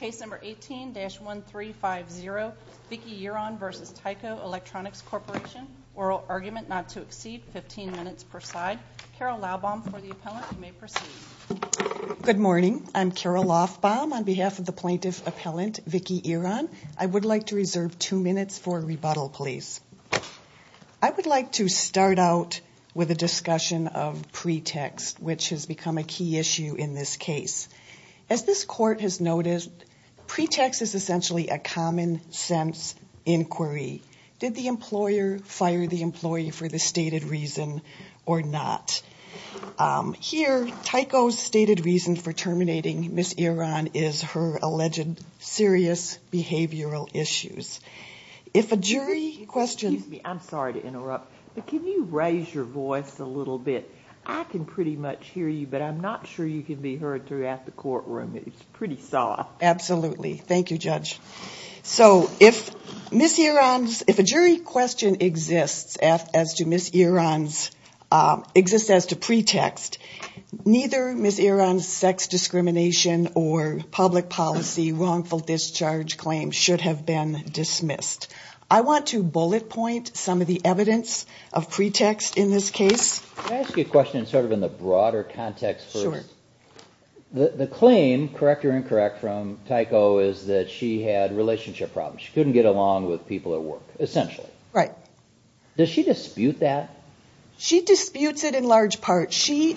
Case number 18-1350, Vicki Giron v. Tyco Electronics Corporation. Oral argument not to exceed 15 minutes per side. Carol Laubbaum for the appellant. You may proceed. Good morning. I'm Carol Laubbaum on behalf of the plaintiff appellant, Vicki Giron. I would like to reserve two minutes for rebuttal, please. I would like to start out with a discussion of pretext, which has become a key issue in this case. As this court has noticed, pretext is essentially a common-sense inquiry. Did the employer fire the employee for the stated reason or not? Here, Tyco's stated reason for terminating Ms. Giron is her alleged serious behavioral issues. If a jury questions— Excuse me. I'm sorry to interrupt, but can you raise your voice a little bit? I can pretty much hear you, but I'm not sure you can be heard throughout the courtroom. It's pretty soft. Absolutely. Thank you, Judge. So if Ms. Giron's—if a jury question exists as to Ms. Giron's—exists as to pretext, neither Ms. Giron's sex discrimination or public policy wrongful discharge claim should have been dismissed. I want to bullet point some of the evidence of pretext in this case. Can I ask you a question sort of in the broader context first? Sure. The claim, correct or incorrect, from Tyco is that she had relationship problems. She couldn't get along with people at work, essentially. Right. Does she dispute that? She disputes it in large part. She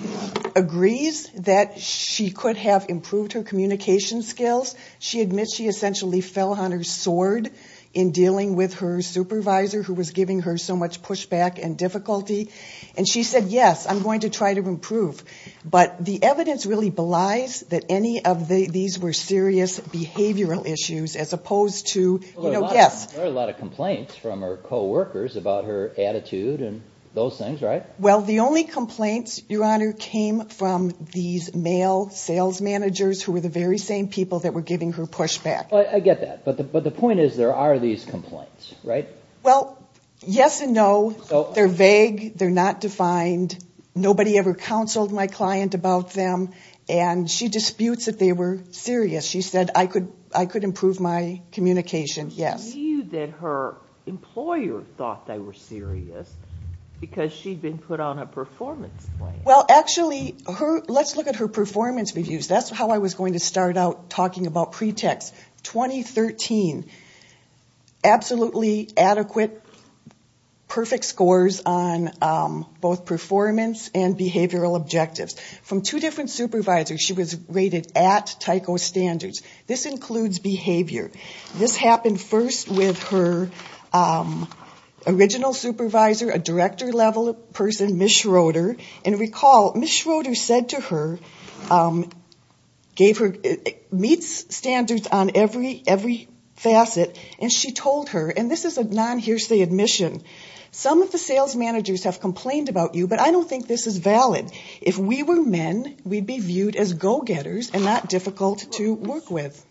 agrees that she could have improved her communication skills. She admits she essentially fell on her sword in dealing with her supervisor, who was giving her so much pushback and difficulty. And she said, yes, I'm going to try to improve. But the evidence really belies that any of these were serious behavioral issues as opposed to— Well, there were a lot of complaints from her coworkers about her attitude and those things, right? Well, the only complaints, Your Honor, came from these male sales managers who were the very same people that were giving her pushback. I get that. But the point is there are these complaints, right? Well, yes and no. They're vague. They're not defined. Nobody ever counseled my client about them. And she disputes that they were serious. She said, I could improve my communication, yes. She knew that her employer thought they were serious because she'd been put on a performance plan. Well, actually, let's look at her performance reviews. That's how I was going to start out talking about pretext. 2013, absolutely adequate, perfect scores on both performance and behavioral objectives. From two different supervisors, she was rated at Tyco Standards. This includes behavior. This happened first with her original supervisor, a director-level person, Ms. Schroeder. And recall, Ms. Schroeder said to her, meets standards on every facet, and she told her, and this is a non-hearsay admission, some of the sales managers have complained about you, but I don't think this is valid. If we were men, we'd be viewed as go-getters and not difficult to work with.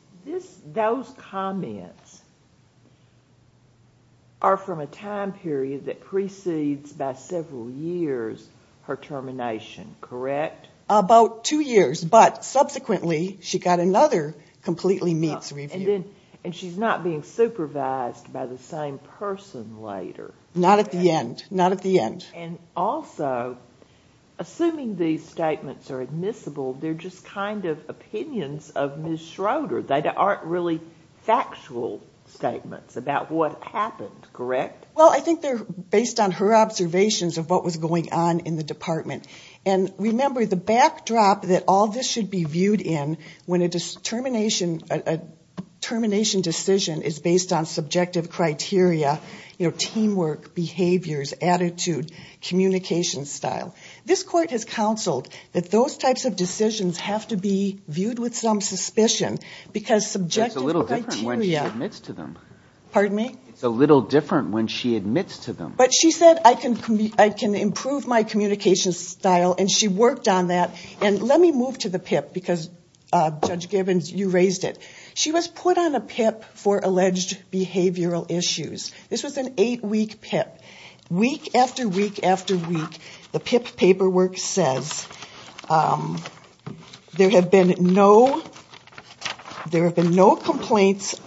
Those comments are from a time period that precedes, by several years, her termination, correct? About two years, but subsequently she got another completely meets review. And she's not being supervised by the same person later. Not at the end, not at the end. And also, assuming these statements are admissible, they're just kind of opinions of Ms. Schroeder. They aren't really factual statements about what happened, correct? Well, I think they're based on her observations of what was going on in the department. And remember, the backdrop that all this should be viewed in when a termination decision is based on subjective criteria, you know, teamwork, behaviors, attitude, communication style. This court has counseled that those types of decisions have to be viewed with some suspicion because subjective criteria. It's a little different when she admits to them. Pardon me? It's a little different when she admits to them. But she said, I can improve my communication style, and she worked on that. And let me move to the PIP, because Judge Gibbons, you raised it. She was put on a PIP for alleged behavioral issues. This was an eight-week PIP. Week after week after week, the PIP paperwork says there have been no complaints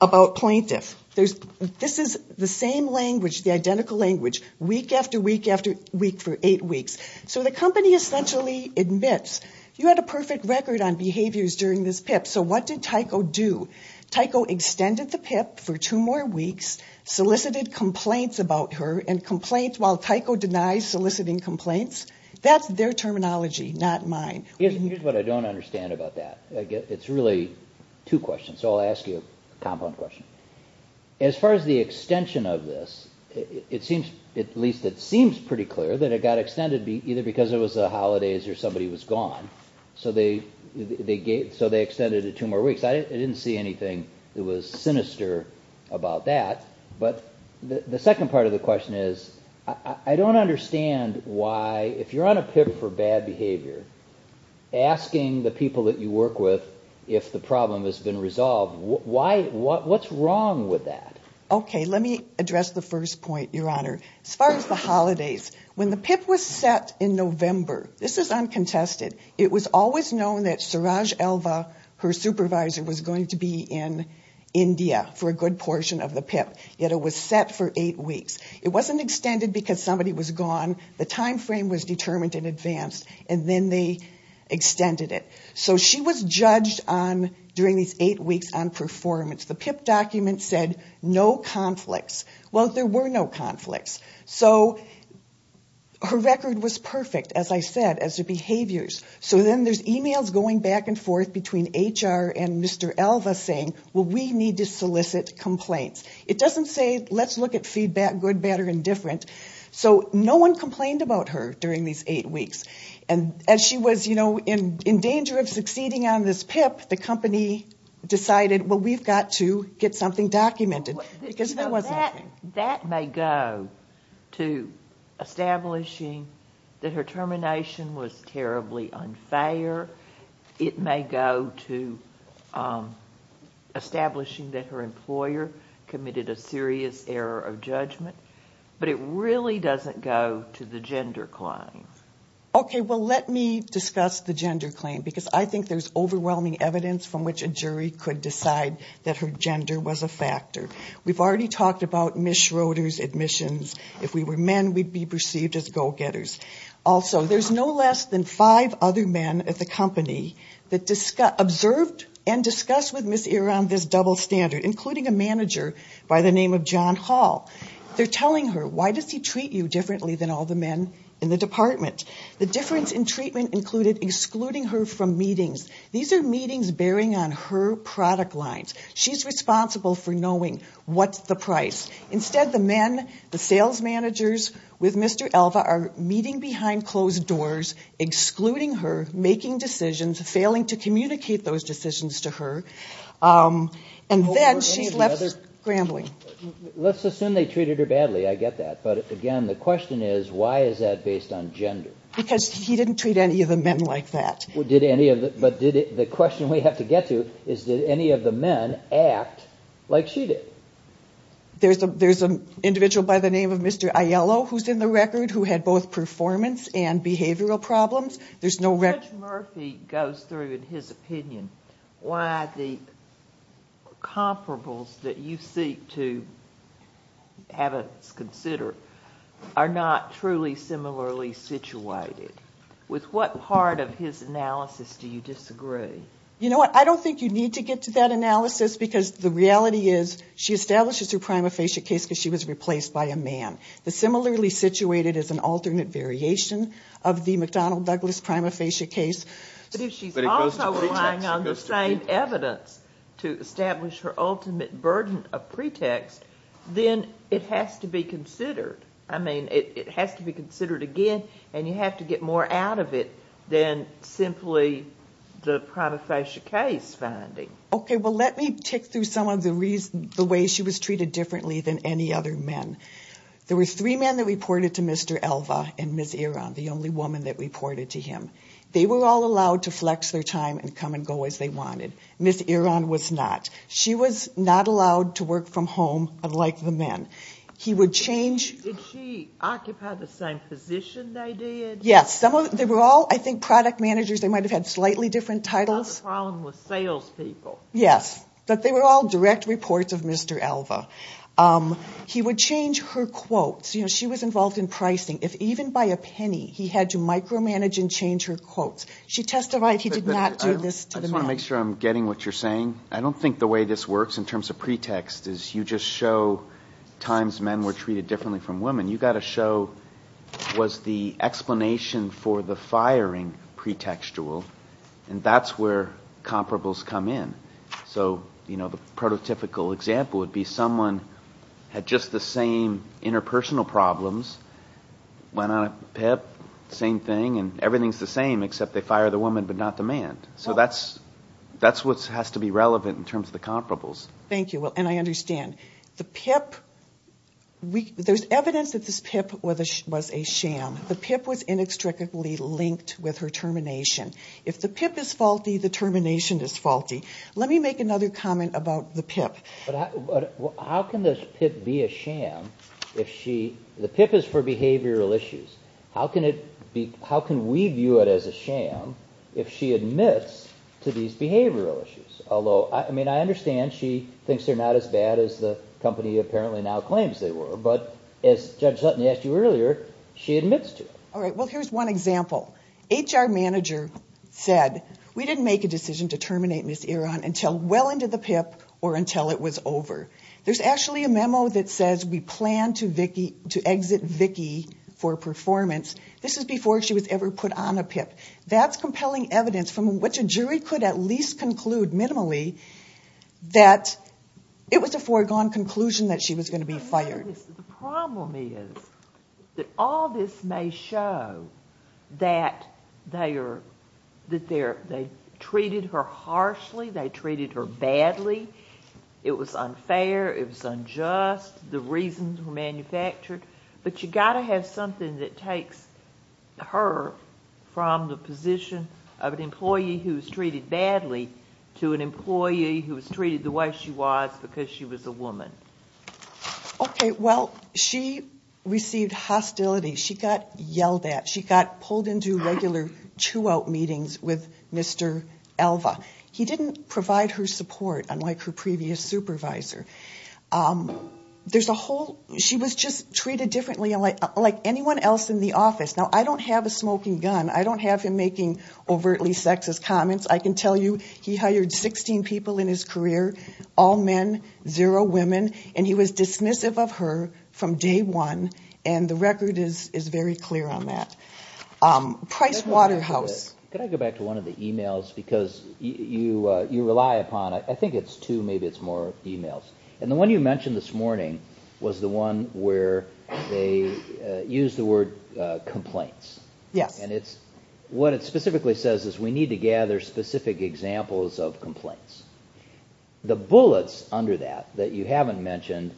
about plaintiff. This is the same language, the identical language, week after week after week for eight weeks. So the company essentially admits, you had a perfect record on behaviors during this PIP, so what did Tyco do? Tyco extended the PIP for two more weeks, solicited complaints about her, and complaints while Tyco denies soliciting complaints, that's their terminology, not mine. Here's what I don't understand about that. It's really two questions, so I'll ask you a compound question. As far as the extension of this, at least it seems pretty clear that it got extended either because it was the holidays or somebody was gone, so they extended it two more weeks. I didn't see anything that was sinister about that. But the second part of the question is, I don't understand why, if you're on a PIP for bad behavior, asking the people that you work with if the problem has been resolved, what's wrong with that? Okay, let me address the first point, Your Honor. As far as the holidays, when the PIP was set in November, this is uncontested, it was always known that Suraj Elva, her supervisor, was going to be in India for a good portion of the PIP, yet it was set for eight weeks. It wasn't extended because somebody was gone, the time frame was determined in advance, and then they extended it. So she was judged during these eight weeks on performance. The PIP document said no conflicts. Well, there were no conflicts. So her record was perfect, as I said, as her behaviors. So then there's emails going back and forth between HR and Mr. Elva saying, well, we need to solicit complaints. It doesn't say, let's look at feedback, good, bad, or indifferent. So no one complained about her during these eight weeks. And as she was, you know, in danger of succeeding on this PIP, the company decided, well, we've got to get something documented because there was nothing. That may go to establishing that her termination was terribly unfair. It may go to establishing that her employer committed a serious error of judgment. But it really doesn't go to the gender claim. Okay, well, let me discuss the gender claim because I think there's overwhelming evidence from which a jury could decide that her gender was a factor. We've already talked about Ms. Schroeder's admissions. If we were men, we'd be perceived as go-getters. Also, there's no less than five other men at the company that observed and discussed with Ms. Iran this double standard, including a manager by the name of John Hall. They're telling her, why does he treat you differently than all the men in the department? The difference in treatment included excluding her from meetings. These are meetings bearing on her product lines. She's responsible for knowing what's the price. Instead, the men, the sales managers with Mr. Elva, are meeting behind closed doors, excluding her, making decisions, failing to communicate those decisions to her. And then she's left scrambling. Let's assume they treated her badly, I get that. But again, the question is, why is that based on gender? Because he didn't treat any of the men like that. But the question we have to get to is, did any of the men act like she did? There's an individual by the name of Mr. Aiello who's in the record who had both performance and behavioral problems. There's no record. Judge Murphy goes through in his opinion why the comparables that you seek to have us consider are not truly similarly situated. With what part of his analysis do you disagree? You know what, I don't think you need to get to that analysis, because the reality is she establishes her prima facie case because she was replaced by a man. The similarly situated is an alternate variation of the McDonnell-Douglas prima facie case. But if she's also relying on the same evidence to establish her ultimate burden of pretext, then it has to be considered. I mean, it has to be considered again, and you have to get more out of it than simply the prima facie case finding. Okay, well, let me tick through some of the ways she was treated differently than any other men. There were three men that reported to Mr. Elva and Ms. Eron, the only woman that reported to him. They were all allowed to flex their time and come and go as they wanted. Ms. Eron was not. She was not allowed to work from home unlike the men. He would change. Did she occupy the same position they did? Yes. They were all, I think, product managers. They might have had slightly different titles. Not a problem with salespeople. Yes, but they were all direct reports of Mr. Elva. He would change her quotes. You know, she was involved in pricing. If even by a penny he had to micromanage and change her quotes. She testified he did not do this to the men. I just want to make sure I'm getting what you're saying. I don't think the way this works in terms of pretext is you just show times men were treated differently from women. You've got to show was the explanation for the firing pretextual, and that's where comparables come in. So, you know, the prototypical example would be someone had just the same interpersonal problems, went on a PIP, same thing, and everything's the same except they fire the woman but not the man. So that's what has to be relevant in terms of the comparables. Thank you. And I understand. The PIP, there's evidence that this PIP was a sham. The PIP was inextricably linked with her termination. If the PIP is faulty, the termination is faulty. Let me make another comment about the PIP. How can this PIP be a sham if she – the PIP is for behavioral issues. How can we view it as a sham if she admits to these behavioral issues? Although, I mean, I understand she thinks they're not as bad as the company apparently now claims they were, but as Judge Sutton asked you earlier, she admits to it. All right. Well, here's one example. HR manager said, we didn't make a decision to terminate Ms. Eron until well into the PIP or until it was over. There's actually a memo that says we plan to exit Vicki for performance. This is before she was ever put on a PIP. That's compelling evidence from which a jury could at least conclude minimally that it was a foregone conclusion that she was going to be fired. The problem is that all this may show that they treated her harshly. They treated her badly. It was unfair. It was unjust. The reasons were manufactured. But you've got to have something that takes her from the position of an employee who was treated badly to an employee who was treated the way she was because she was a woman. Okay. Well, she received hostility. She got yelled at. She got pulled into regular chew-out meetings with Mr. Alva. He didn't provide her support unlike her previous supervisor. There's a whole – she was just treated differently like anyone else in the office. Now, I don't have a smoking gun. I don't have him making overtly sexist comments. I can tell you he hired 16 people in his career, all men, zero women, and he was dismissive of her from day one, and the record is very clear on that. Price Waterhouse. Can I go back to one of the emails because you rely upon – I think it's two, maybe it's more emails. And the one you mentioned this morning was the one where they used the word complaints. Yes. And what it specifically says is we need to gather specific examples of complaints. The bullets under that that you haven't mentioned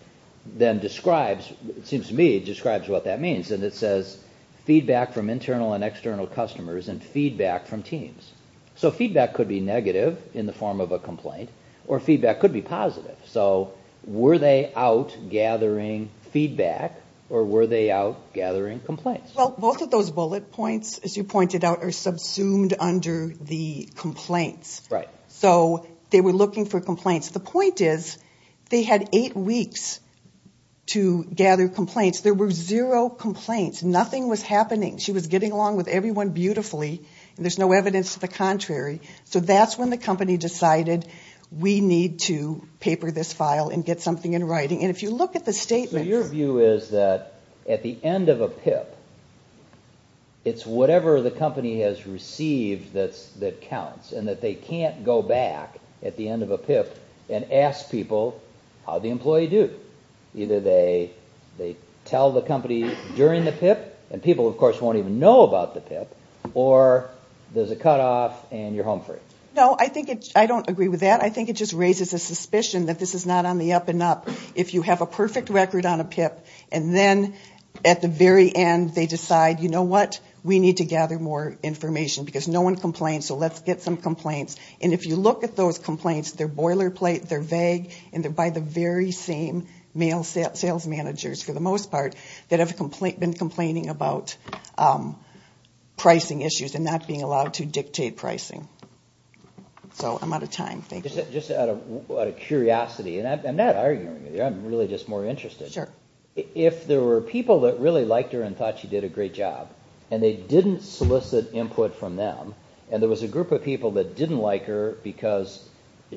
then describes, it seems to me, describes what that means, and it says feedback from internal and external customers and feedback from teams. So feedback could be negative in the form of a complaint or feedback could be positive. So were they out gathering feedback or were they out gathering complaints? Well, both of those bullet points, as you pointed out, are subsumed under the complaints. Right. So they were looking for complaints. The point is they had eight weeks to gather complaints. There were zero complaints. Nothing was happening. She was getting along with everyone beautifully, and there's no evidence to the contrary. So that's when the company decided we need to paper this file and get something in writing. And if you look at the statements. So your view is that at the end of a PIP, it's whatever the company has received that counts and that they can't go back at the end of a PIP and ask people how the employee did it. Either they tell the company during the PIP, and people, of course, won't even know about the PIP, or there's a cutoff and you're home free. No, I don't agree with that. I think it just raises a suspicion that this is not on the up and up. If you have a perfect record on a PIP, and then at the very end they decide, you know what, we need to gather more information because no one complains, so let's get some complaints. And if you look at those complaints, they're boilerplate, they're vague, and they're by the very same sales managers, for the most part, that have been complaining about pricing issues and not being allowed to dictate pricing. So I'm out of time, thank you. Just out of curiosity, and I'm not arguing with you, I'm really just more interested. Sure. If there were people that really liked her and thought she did a great job, and they didn't solicit input from them, and there was a group of people that didn't like her because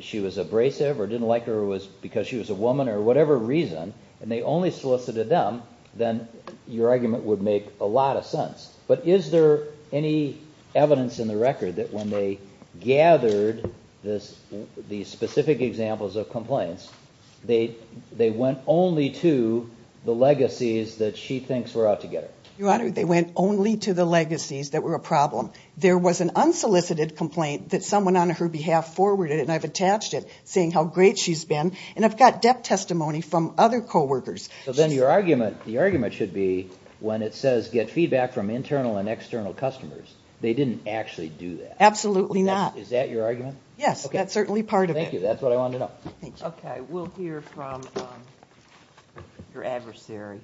she was abrasive or didn't like her because she was a woman or whatever reason, and they only solicited them, then your argument would make a lot of sense. But is there any evidence in the record that when they gathered these specific examples of complaints, they went only to the legacies that she thinks were out to get her? Your Honor, they went only to the legacies that were a problem. There was an unsolicited complaint that someone on her behalf forwarded, and I've attached it saying how great she's been, and I've got depth testimony from other coworkers. So then the argument should be when it says get feedback from internal and external customers, they didn't actually do that. Absolutely not. Is that your argument? Yes, that's certainly part of it. Thank you, that's what I wanted to know. Thank you. Okay, we'll hear from your adversary.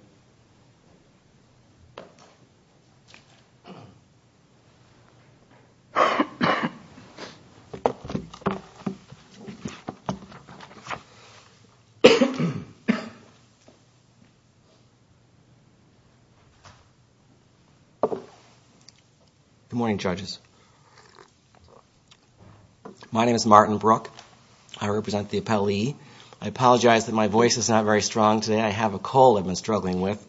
Good morning, judges. My name is Martin Brook. I represent the appellee. I apologize that my voice is not very strong today. I have a cold I've been struggling with,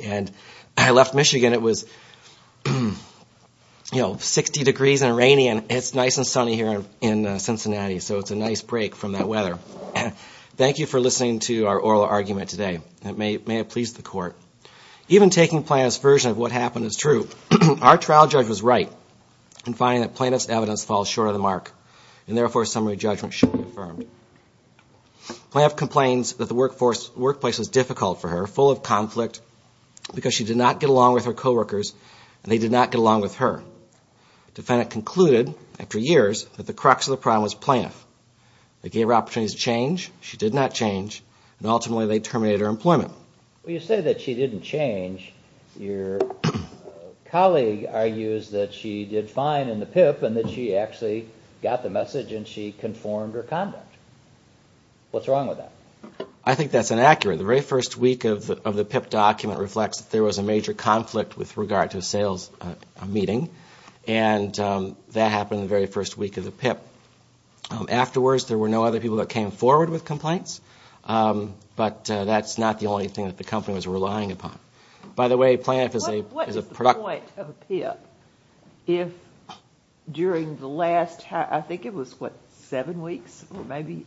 and I left Michigan. It was 60 degrees and rainy, and it's nice and sunny here in Cincinnati, so it's a nice break from that weather. Thank you for listening to our oral argument today. It may have pleased the court. Even taking Planoff's version of what happened is true. Our trial judge was right in finding that Planoff's evidence falls short of the mark, and therefore a summary judgment should be affirmed. Planoff complains that the workplace was difficult for her, full of conflict, because she did not get along with her coworkers, and they did not get along with her. The defendant concluded, after years, that the crux of the problem was Planoff. They gave her opportunities to change. She did not change, and ultimately they terminated her employment. Well, you say that she didn't change. Your colleague argues that she did fine in the PIP and that she actually got the message and she conformed her conduct. What's wrong with that? I think that's inaccurate. The very first week of the PIP document reflects that there was a major conflict Afterwards, there were no other people that came forward with complaints, but that's not the only thing that the company was relying upon. By the way, Planoff is a productive person. What's the point of a PIP if during the last, I think it was, what, seven weeks? Maybe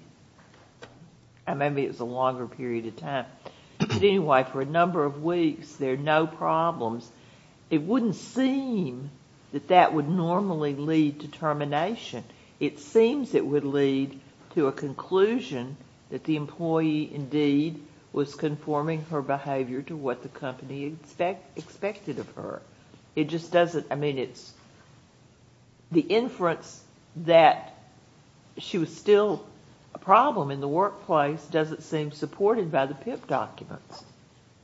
it was a longer period of time. But anyway, for a number of weeks, there are no problems. It wouldn't seem that that would normally lead to termination. It seems it would lead to a conclusion that the employee, indeed, was conforming her behavior to what the company expected of her. It just doesn't. I mean, the inference that she was still a problem in the workplace doesn't seem supported by the PIP documents.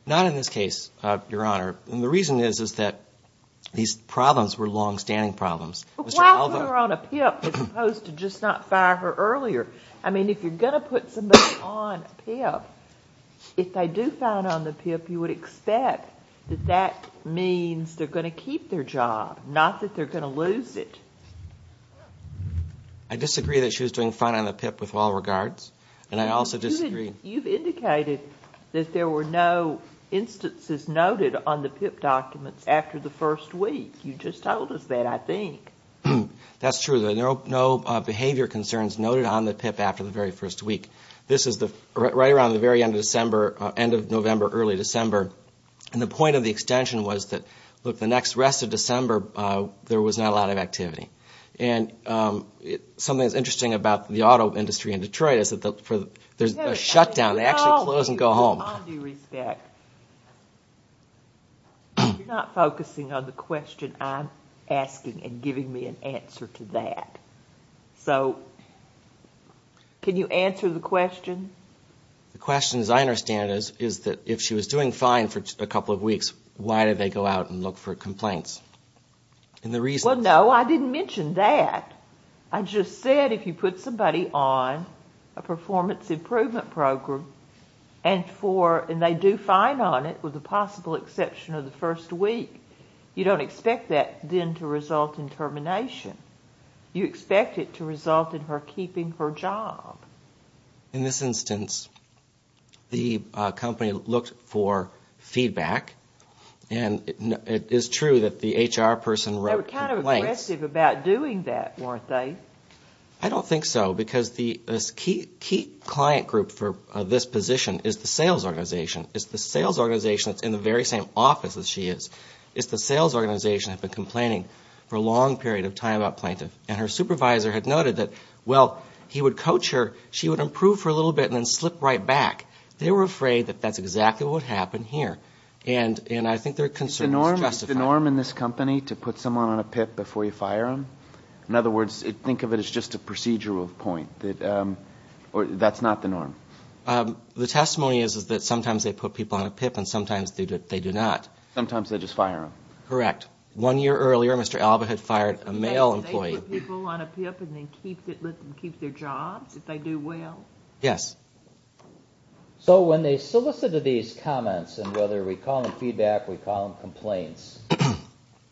Not in this case, Your Honor. And the reason is that these problems were longstanding problems. Why put her on a PIP as opposed to just not fire her earlier? I mean, if you're going to put somebody on a PIP, if they do find on the PIP, you would expect that that means they're going to keep their job, not that they're going to lose it. I disagree that she was doing fine on the PIP with all regards, and I also disagree. You've indicated that there were no instances noted on the PIP documents after the first week. You just told us that, I think. That's true. There are no behavior concerns noted on the PIP after the very first week. This is right around the very end of November, early December, and the point of the extension was that, look, the next rest of December, there was not a lot of activity. And something that's interesting about the auto industry in Detroit is that there's a shutdown. They actually close and go home. With all due respect, you're not focusing on the question I'm asking and giving me an answer to that. So can you answer the question? The question, as I understand it, is that if she was doing fine for a couple of weeks, why did they go out and look for complaints? Well, no, I didn't mention that. I just said if you put somebody on a performance improvement program and they do fine on it with the possible exception of the first week, you don't expect that then to result in termination. You expect it to result in her keeping her job. In this instance, the company looked for feedback, and it is true that the HR person wrote complaints. They were aggressive about doing that, weren't they? I don't think so because the key client group for this position is the sales organization. It's the sales organization that's in the very same office that she is. It's the sales organization that's been complaining for a long period of time about plaintiff. And her supervisor had noted that, well, he would coach her, she would improve for a little bit and then slip right back. They were afraid that that's exactly what happened here. And I think their concern was justified. Is it the norm in this company to put someone on a PIP before you fire them? In other words, think of it as just a procedural point. That's not the norm. The testimony is that sometimes they put people on a PIP and sometimes they do not. Sometimes they just fire them. Correct. One year earlier, Mr. Alba had fired a male employee. They put people on a PIP and let them keep their jobs if they do well? Yes. So when they solicited these comments, and whether we call them feedback, we call them complaints,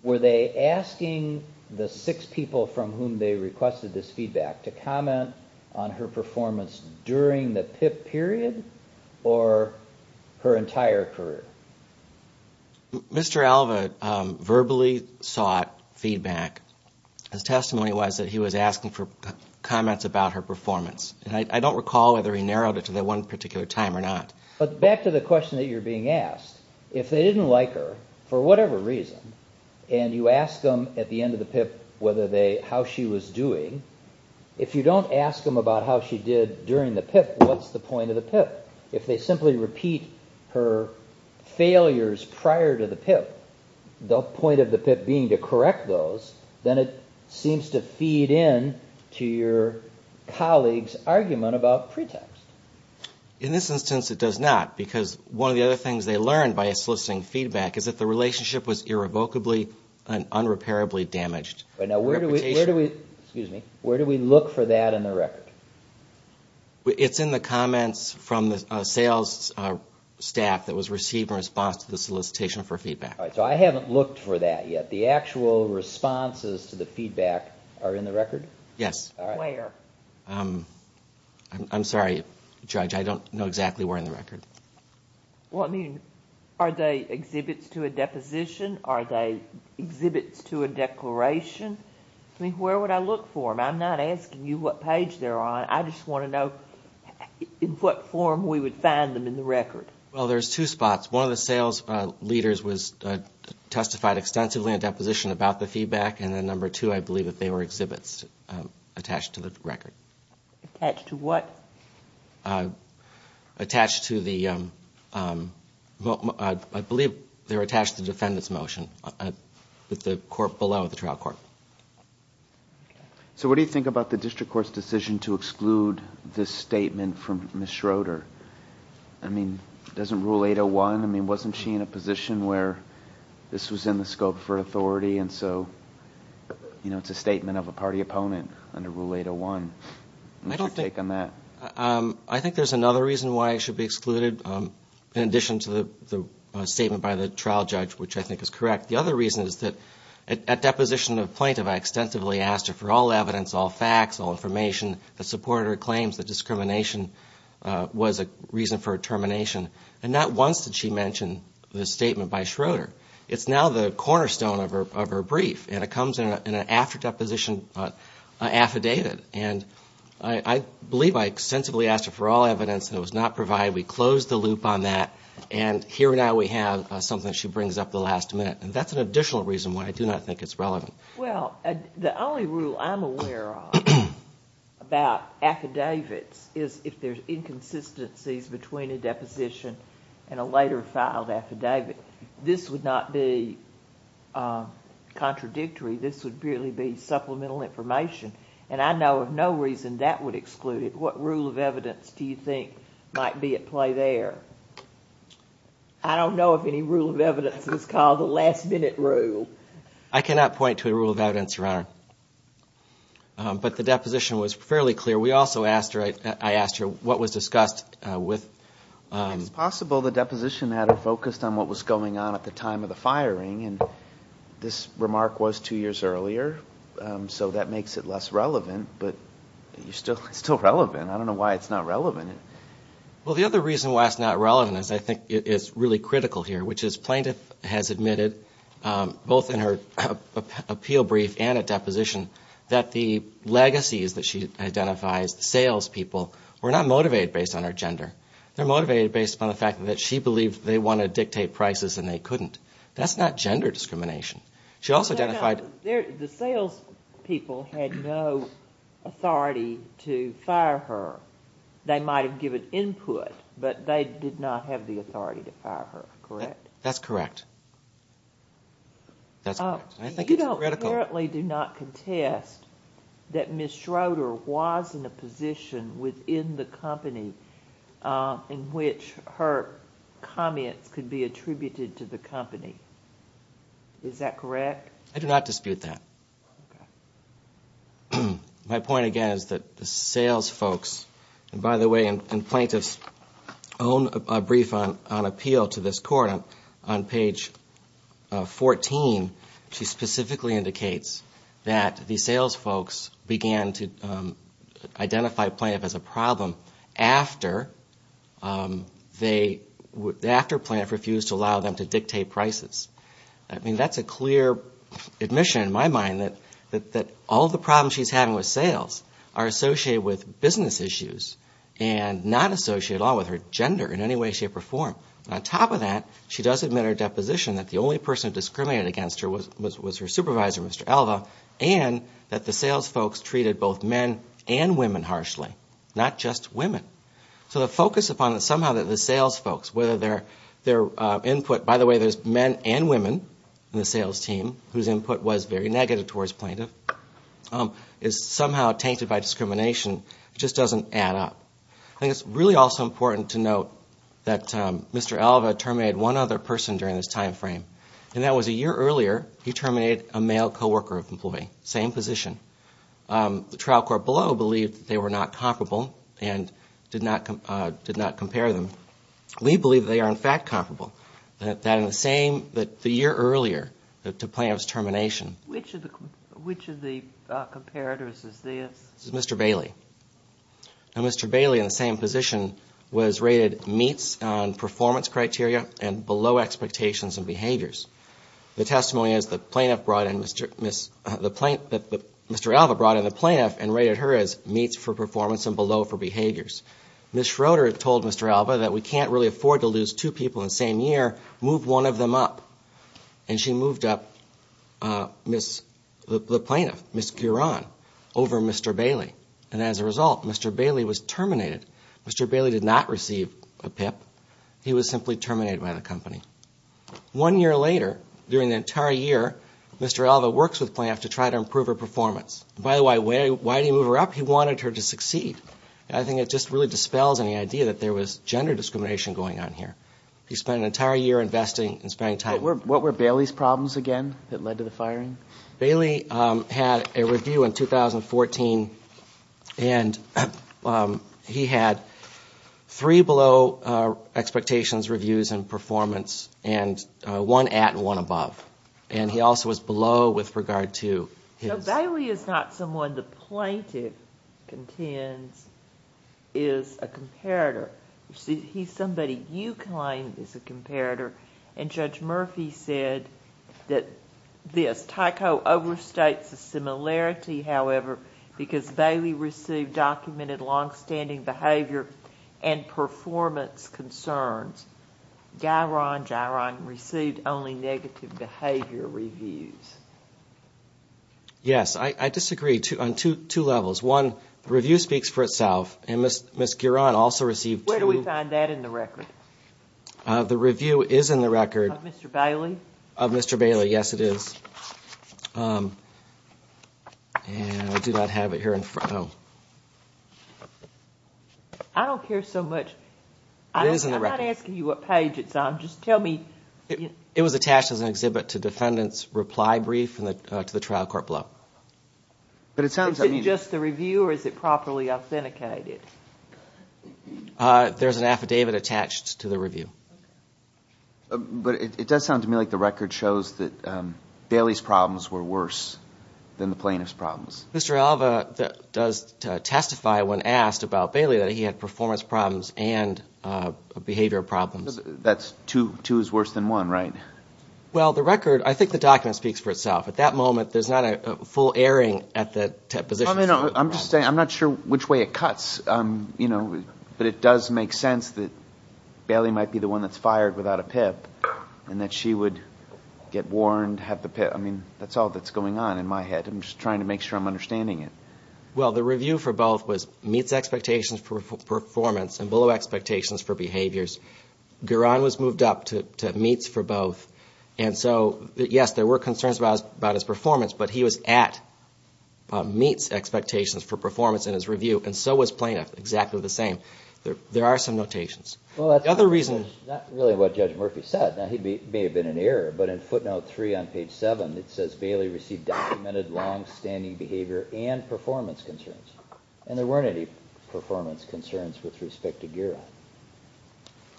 were they asking the six people from whom they requested this feedback to comment on her performance during the PIP period or her entire career? Mr. Alba verbally sought feedback. His testimony was that he was asking for comments about her performance. I don't recall whether he narrowed it to that one particular time or not. But back to the question that you're being asked, if they didn't like her for whatever reason and you ask them at the end of the PIP how she was doing, if you don't ask them about how she did during the PIP, what's the point of the PIP? If they simply repeat her failures prior to the PIP, the point of the PIP being to correct those, then it seems to feed into your colleague's argument about pretext. In this instance it does not, because one of the other things they learned by soliciting feedback is that the relationship was irrevocably and unrepairably damaged. Where do we look for that in the record? It's in the comments from the sales staff that was received in response to the solicitation for feedback. So I haven't looked for that yet. The actual responses to the feedback are in the record? Yes. Where? I'm sorry, Judge, I don't know exactly where in the record. Are they exhibits to a deposition? Are they exhibits to a declaration? Where would I look for them? I'm not asking you what page they're on. I just want to know in what form we would find them in the record. Well, there's two spots. One of the sales leaders testified extensively in a deposition about the feedback, and then number two, I believe that they were exhibits attached to the record. Attached to what? Attached to the, I believe they were attached to the defendant's motion with the court below the trial court. So what do you think about the district court's decision to exclude this statement from Ms. Schroeder? I mean, doesn't Rule 801, I mean, wasn't she in a position where this was in the scope for authority? And so, you know, it's a statement of a party opponent under Rule 801. What's your take on that? I think there's another reason why it should be excluded, in addition to the statement by the trial judge, which I think is correct. The other reason is that at deposition of plaintiff, I extensively asked her for all evidence, all facts, all information, that supported her claims that discrimination was a reason for her termination. And not once did she mention the statement by Schroeder. It's now the cornerstone of her brief, and it comes in an after deposition affidavit. And I believe I extensively asked her for all evidence, and it was not provided. We closed the loop on that, and here now we have something she brings up at the last minute. And that's an additional reason why I do not think it's relevant. Well, the only rule I'm aware of about affidavits is if there's inconsistencies between a deposition and a later filed affidavit. This would not be contradictory. This would really be supplemental information. And I know of no reason that would exclude it. What rule of evidence do you think might be at play there? I don't know if any rule of evidence is called the last minute rule. I cannot point to a rule of evidence, Your Honor. But the deposition was fairly clear. We also asked her, I asked her what was discussed with ‑‑ It's possible the deposition had her focused on what was going on at the time of the firing, and this remark was two years earlier, so that makes it less relevant. But it's still relevant. I don't know why it's not relevant. Well, the other reason why it's not relevant is I think it's really critical here, which is plaintiff has admitted both in her appeal brief and at deposition that the legacies that she identifies, the salespeople, were not motivated based on her gender. They're motivated based upon the fact that she believed they wanted to dictate prices and they couldn't. That's not gender discrimination. She also identified ‑‑ The salespeople had no authority to fire her. They might have given input, but they did not have the authority to fire her. Correct? That's correct. That's correct. I think it's critical. You don't apparently do not contest that Ms. Schroeder was in a position within the company in which her comments could be attributed to the company. Is that correct? I do not dispute that. My point, again, is that the salesfolks, and by the way, in plaintiff's own brief on appeal to this court, on page 14, she specifically indicates that the salesfolks began to identify plaintiff as a problem after plaintiff refused to allow them to dictate prices. I mean, that's a clear admission in my mind that all the problems she's having with sales are associated with business issues and not associated at all with her gender in any way, shape, or form. On top of that, she does admit her deposition that the only person discriminated against her was her supervisor, Mr. Alva, and that the salesfolks treated both men and women harshly, not just women. So the focus upon somehow the salesfolks, whether their input, by the way, there's men and women in the sales team whose input was very negative towards plaintiff, is somehow tainted by discrimination. It just doesn't add up. I think it's really also important to note that Mr. Alva terminated one other person during this time frame, and that was a year earlier he terminated a male co-worker of an employee, same position. The trial court below believed that they were not comparable and did not compare them. We believe they are, in fact, comparable, that in the same, that the year earlier to plaintiff's termination. Which of the comparators is this? This is Mr. Bailey. Now, Mr. Bailey, in the same position, was rated meets on performance criteria and below expectations and behaviors. The testimony is that Mr. Alva brought in the plaintiff and rated her as meets for performance and below for behaviors. Ms. Schroeder told Mr. Alva that we can't really afford to lose two people in the same year, move one of them up. And she moved up the plaintiff, Ms. Curon, over Mr. Bailey. And as a result, Mr. Bailey was terminated. Mr. Bailey did not receive a PIP. He was simply terminated by the company. One year later, during the entire year, Mr. Alva works with plaintiff to try to improve her performance. By the way, why did he move her up? He wanted her to succeed. I think it just really dispels any idea that there was gender discrimination going on here. He spent an entire year investing and spending time. What were Bailey's problems again that led to the firing? Bailey had a review in 2014, and he had three below expectations reviews in performance and one at and one above. And he also was below with regard to his... So Bailey is not someone the plaintiff contends is a comparator. He's somebody you claim is a comparator. And Judge Murphy said that this, Tyco overstates the similarity, however, because Bailey received documented longstanding behavior and performance concerns. Giron, Giron received only negative behavior reviews. Yes. I disagree on two levels. One, the review speaks for itself, and Ms. Curon also received two. Where do we find that in the record? The review is in the record. Of Mr. Bailey? Of Mr. Bailey, yes, it is. And I do not have it here in front of me. I don't care so much. It is in the record. I'm not asking you what page it's on. Just tell me. It was attached as an exhibit to defendant's reply brief to the trial court below. But it sounds like... Is it just the review, or is it properly authenticated? There's an affidavit attached to the review. But it does sound to me like the record shows that Bailey's problems were worse than the plaintiff's problems. Mr. Alva does testify when asked about Bailey that he had performance problems and behavior problems. That's two is worse than one, right? Well, the record, I think the document speaks for itself. At that moment, there's not a full airing at the position. I'm just saying, I'm not sure which way it cuts. But it does make sense that Bailey might be the one that's fired without a PIP, and that she would get warned, have the PIP. I mean, that's all that's going on in my head. I'm just trying to make sure I'm understanding it. Well, the review for both was meets expectations for performance and below expectations for behaviors. Garan was moved up to meets for both. And so, yes, there were concerns about his performance, but he was at meets expectations for performance in his review. And so was plaintiff, exactly the same. There are some notations. Well, that's not really what Judge Murphy said. Now, he may have been in error, but in footnote three on page seven, it says, Bailey received documented longstanding behavior and performance concerns. And there weren't any performance concerns with respect to Garan.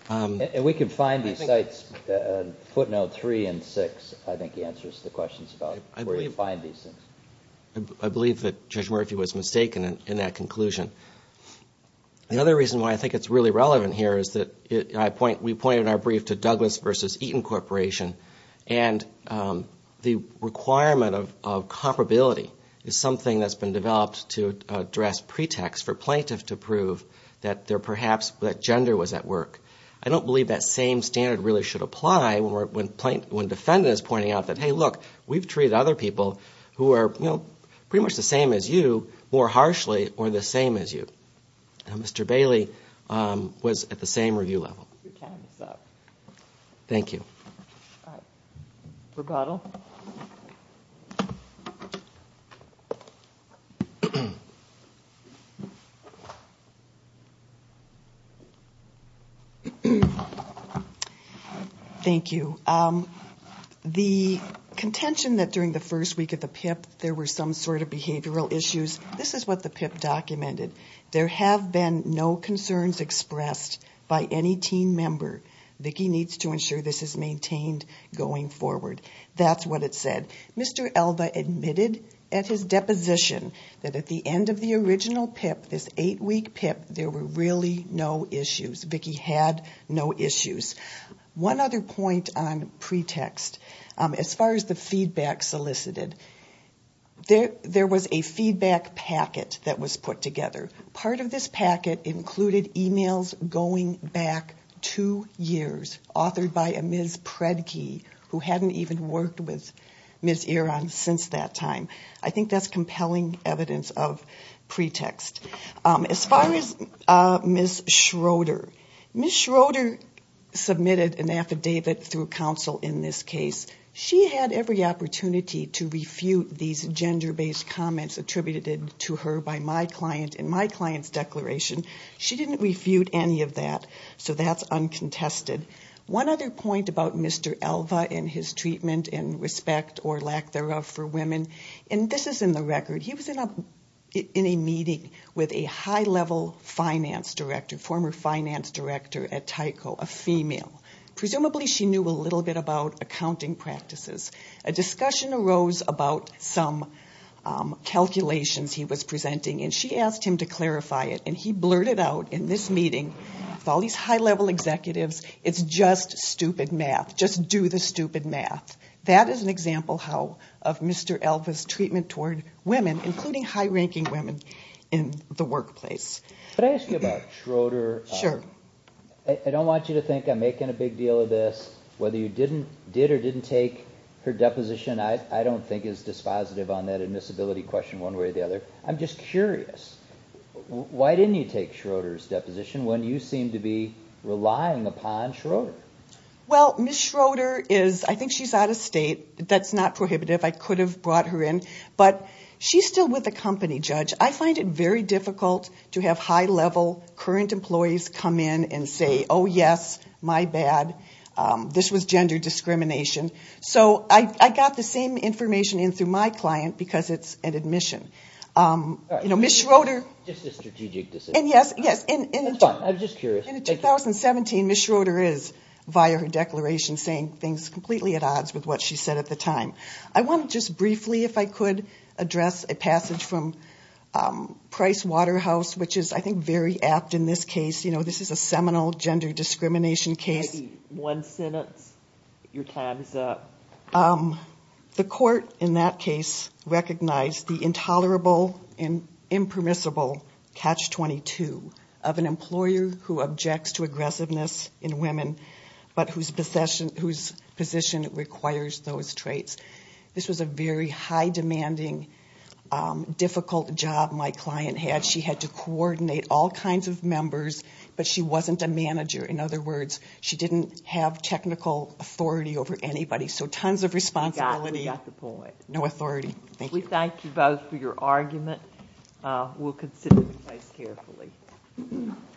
And we can find these sites in footnote three and six, I think, answers the questions about where you find these things. I believe that Judge Murphy was mistaken in that conclusion. The other reason why I think it's really relevant here is that we point in our brief to Douglas v. Eaton Corporation. And the requirement of comparability is something that's been developed to address pretext for plaintiff to prove that perhaps that gender was at work. I don't believe that same standard really should apply when defendant is pointing out that, hey, look, we've treated other people who are pretty much the same as you more harshly or the same as you. Mr. Bailey was at the same review level. Your time is up. Thank you. Rebuttal. Thank you. The contention that during the first week of the PIP there were some sort of behavioral issues, this is what the PIP documented. There have been no concerns expressed by any team member. Vicki needs to ensure this is maintained going forward. That's what it said. Mr. Elva admitted at his deposition that at the end of the original PIP, this eight-week PIP, there were really no issues. Vicki had no issues. One other point on pretext. As far as the feedback solicited, there was a feedback packet that was put together. Part of this packet included e-mails going back two years authored by a Ms. Predke who hadn't even worked with Ms. Iran since that time. I think that's compelling evidence of pretext. As far as Ms. Schroeder, Ms. Schroeder submitted an affidavit through counsel in this case. She had every opportunity to refute these gender-based comments attributed to her by my client in my client's declaration. She didn't refute any of that, so that's uncontested. One other point about Mr. Elva and his treatment and respect or lack thereof for women, and this is in the record. He was in a meeting with a high-level finance director, former finance director at Tyco, a female. Presumably, she knew a little bit about accounting practices. A discussion arose about some calculations he was presenting, and she asked him to clarify it. He blurted out in this meeting with all these high-level executives, it's just stupid math. Just do the stupid math. That is an example of Mr. Elva's treatment toward women, including high-ranking women in the workplace. Could I ask you about Schroeder? Sure. I don't want you to think I'm making a big deal of this. Whether you did or didn't take her deposition, I don't think is dispositive on that admissibility question one way or the other. I'm just curious. Why didn't you take Schroeder's deposition when you seem to be relying upon Schroeder? Well, Ms. Schroeder is, I think she's out of state. That's not prohibitive. I could have brought her in, but she's still with the company, Judge. I find it very difficult to have high-level current employees come in and say, oh, yes, my bad, this was gender discrimination. So I got the same information in through my client because it's an admission. All right. Ms. Schroeder. Just a strategic decision. Yes, yes. That's fine. I was just curious. In 2017, Ms. Schroeder is, via her declaration, saying things completely at odds with what she said at the time. I want to just briefly, if I could, address a passage from Price Waterhouse, which is, I think, very apt in this case. You know, this is a seminal gender discrimination case. Maybe one sentence. Your time is up. The court in that case recognized the intolerable and impermissible catch-22 of an employer who objects to aggressiveness in women, but whose position requires those traits. This was a very high-demanding, difficult job my client had. She had to coordinate all kinds of members, but she wasn't a manager. In other words, she didn't have technical authority over anybody. So tons of responsibility. We got the point. No authority. Thank you. We thank you both for your argument. We'll consider the case carefully.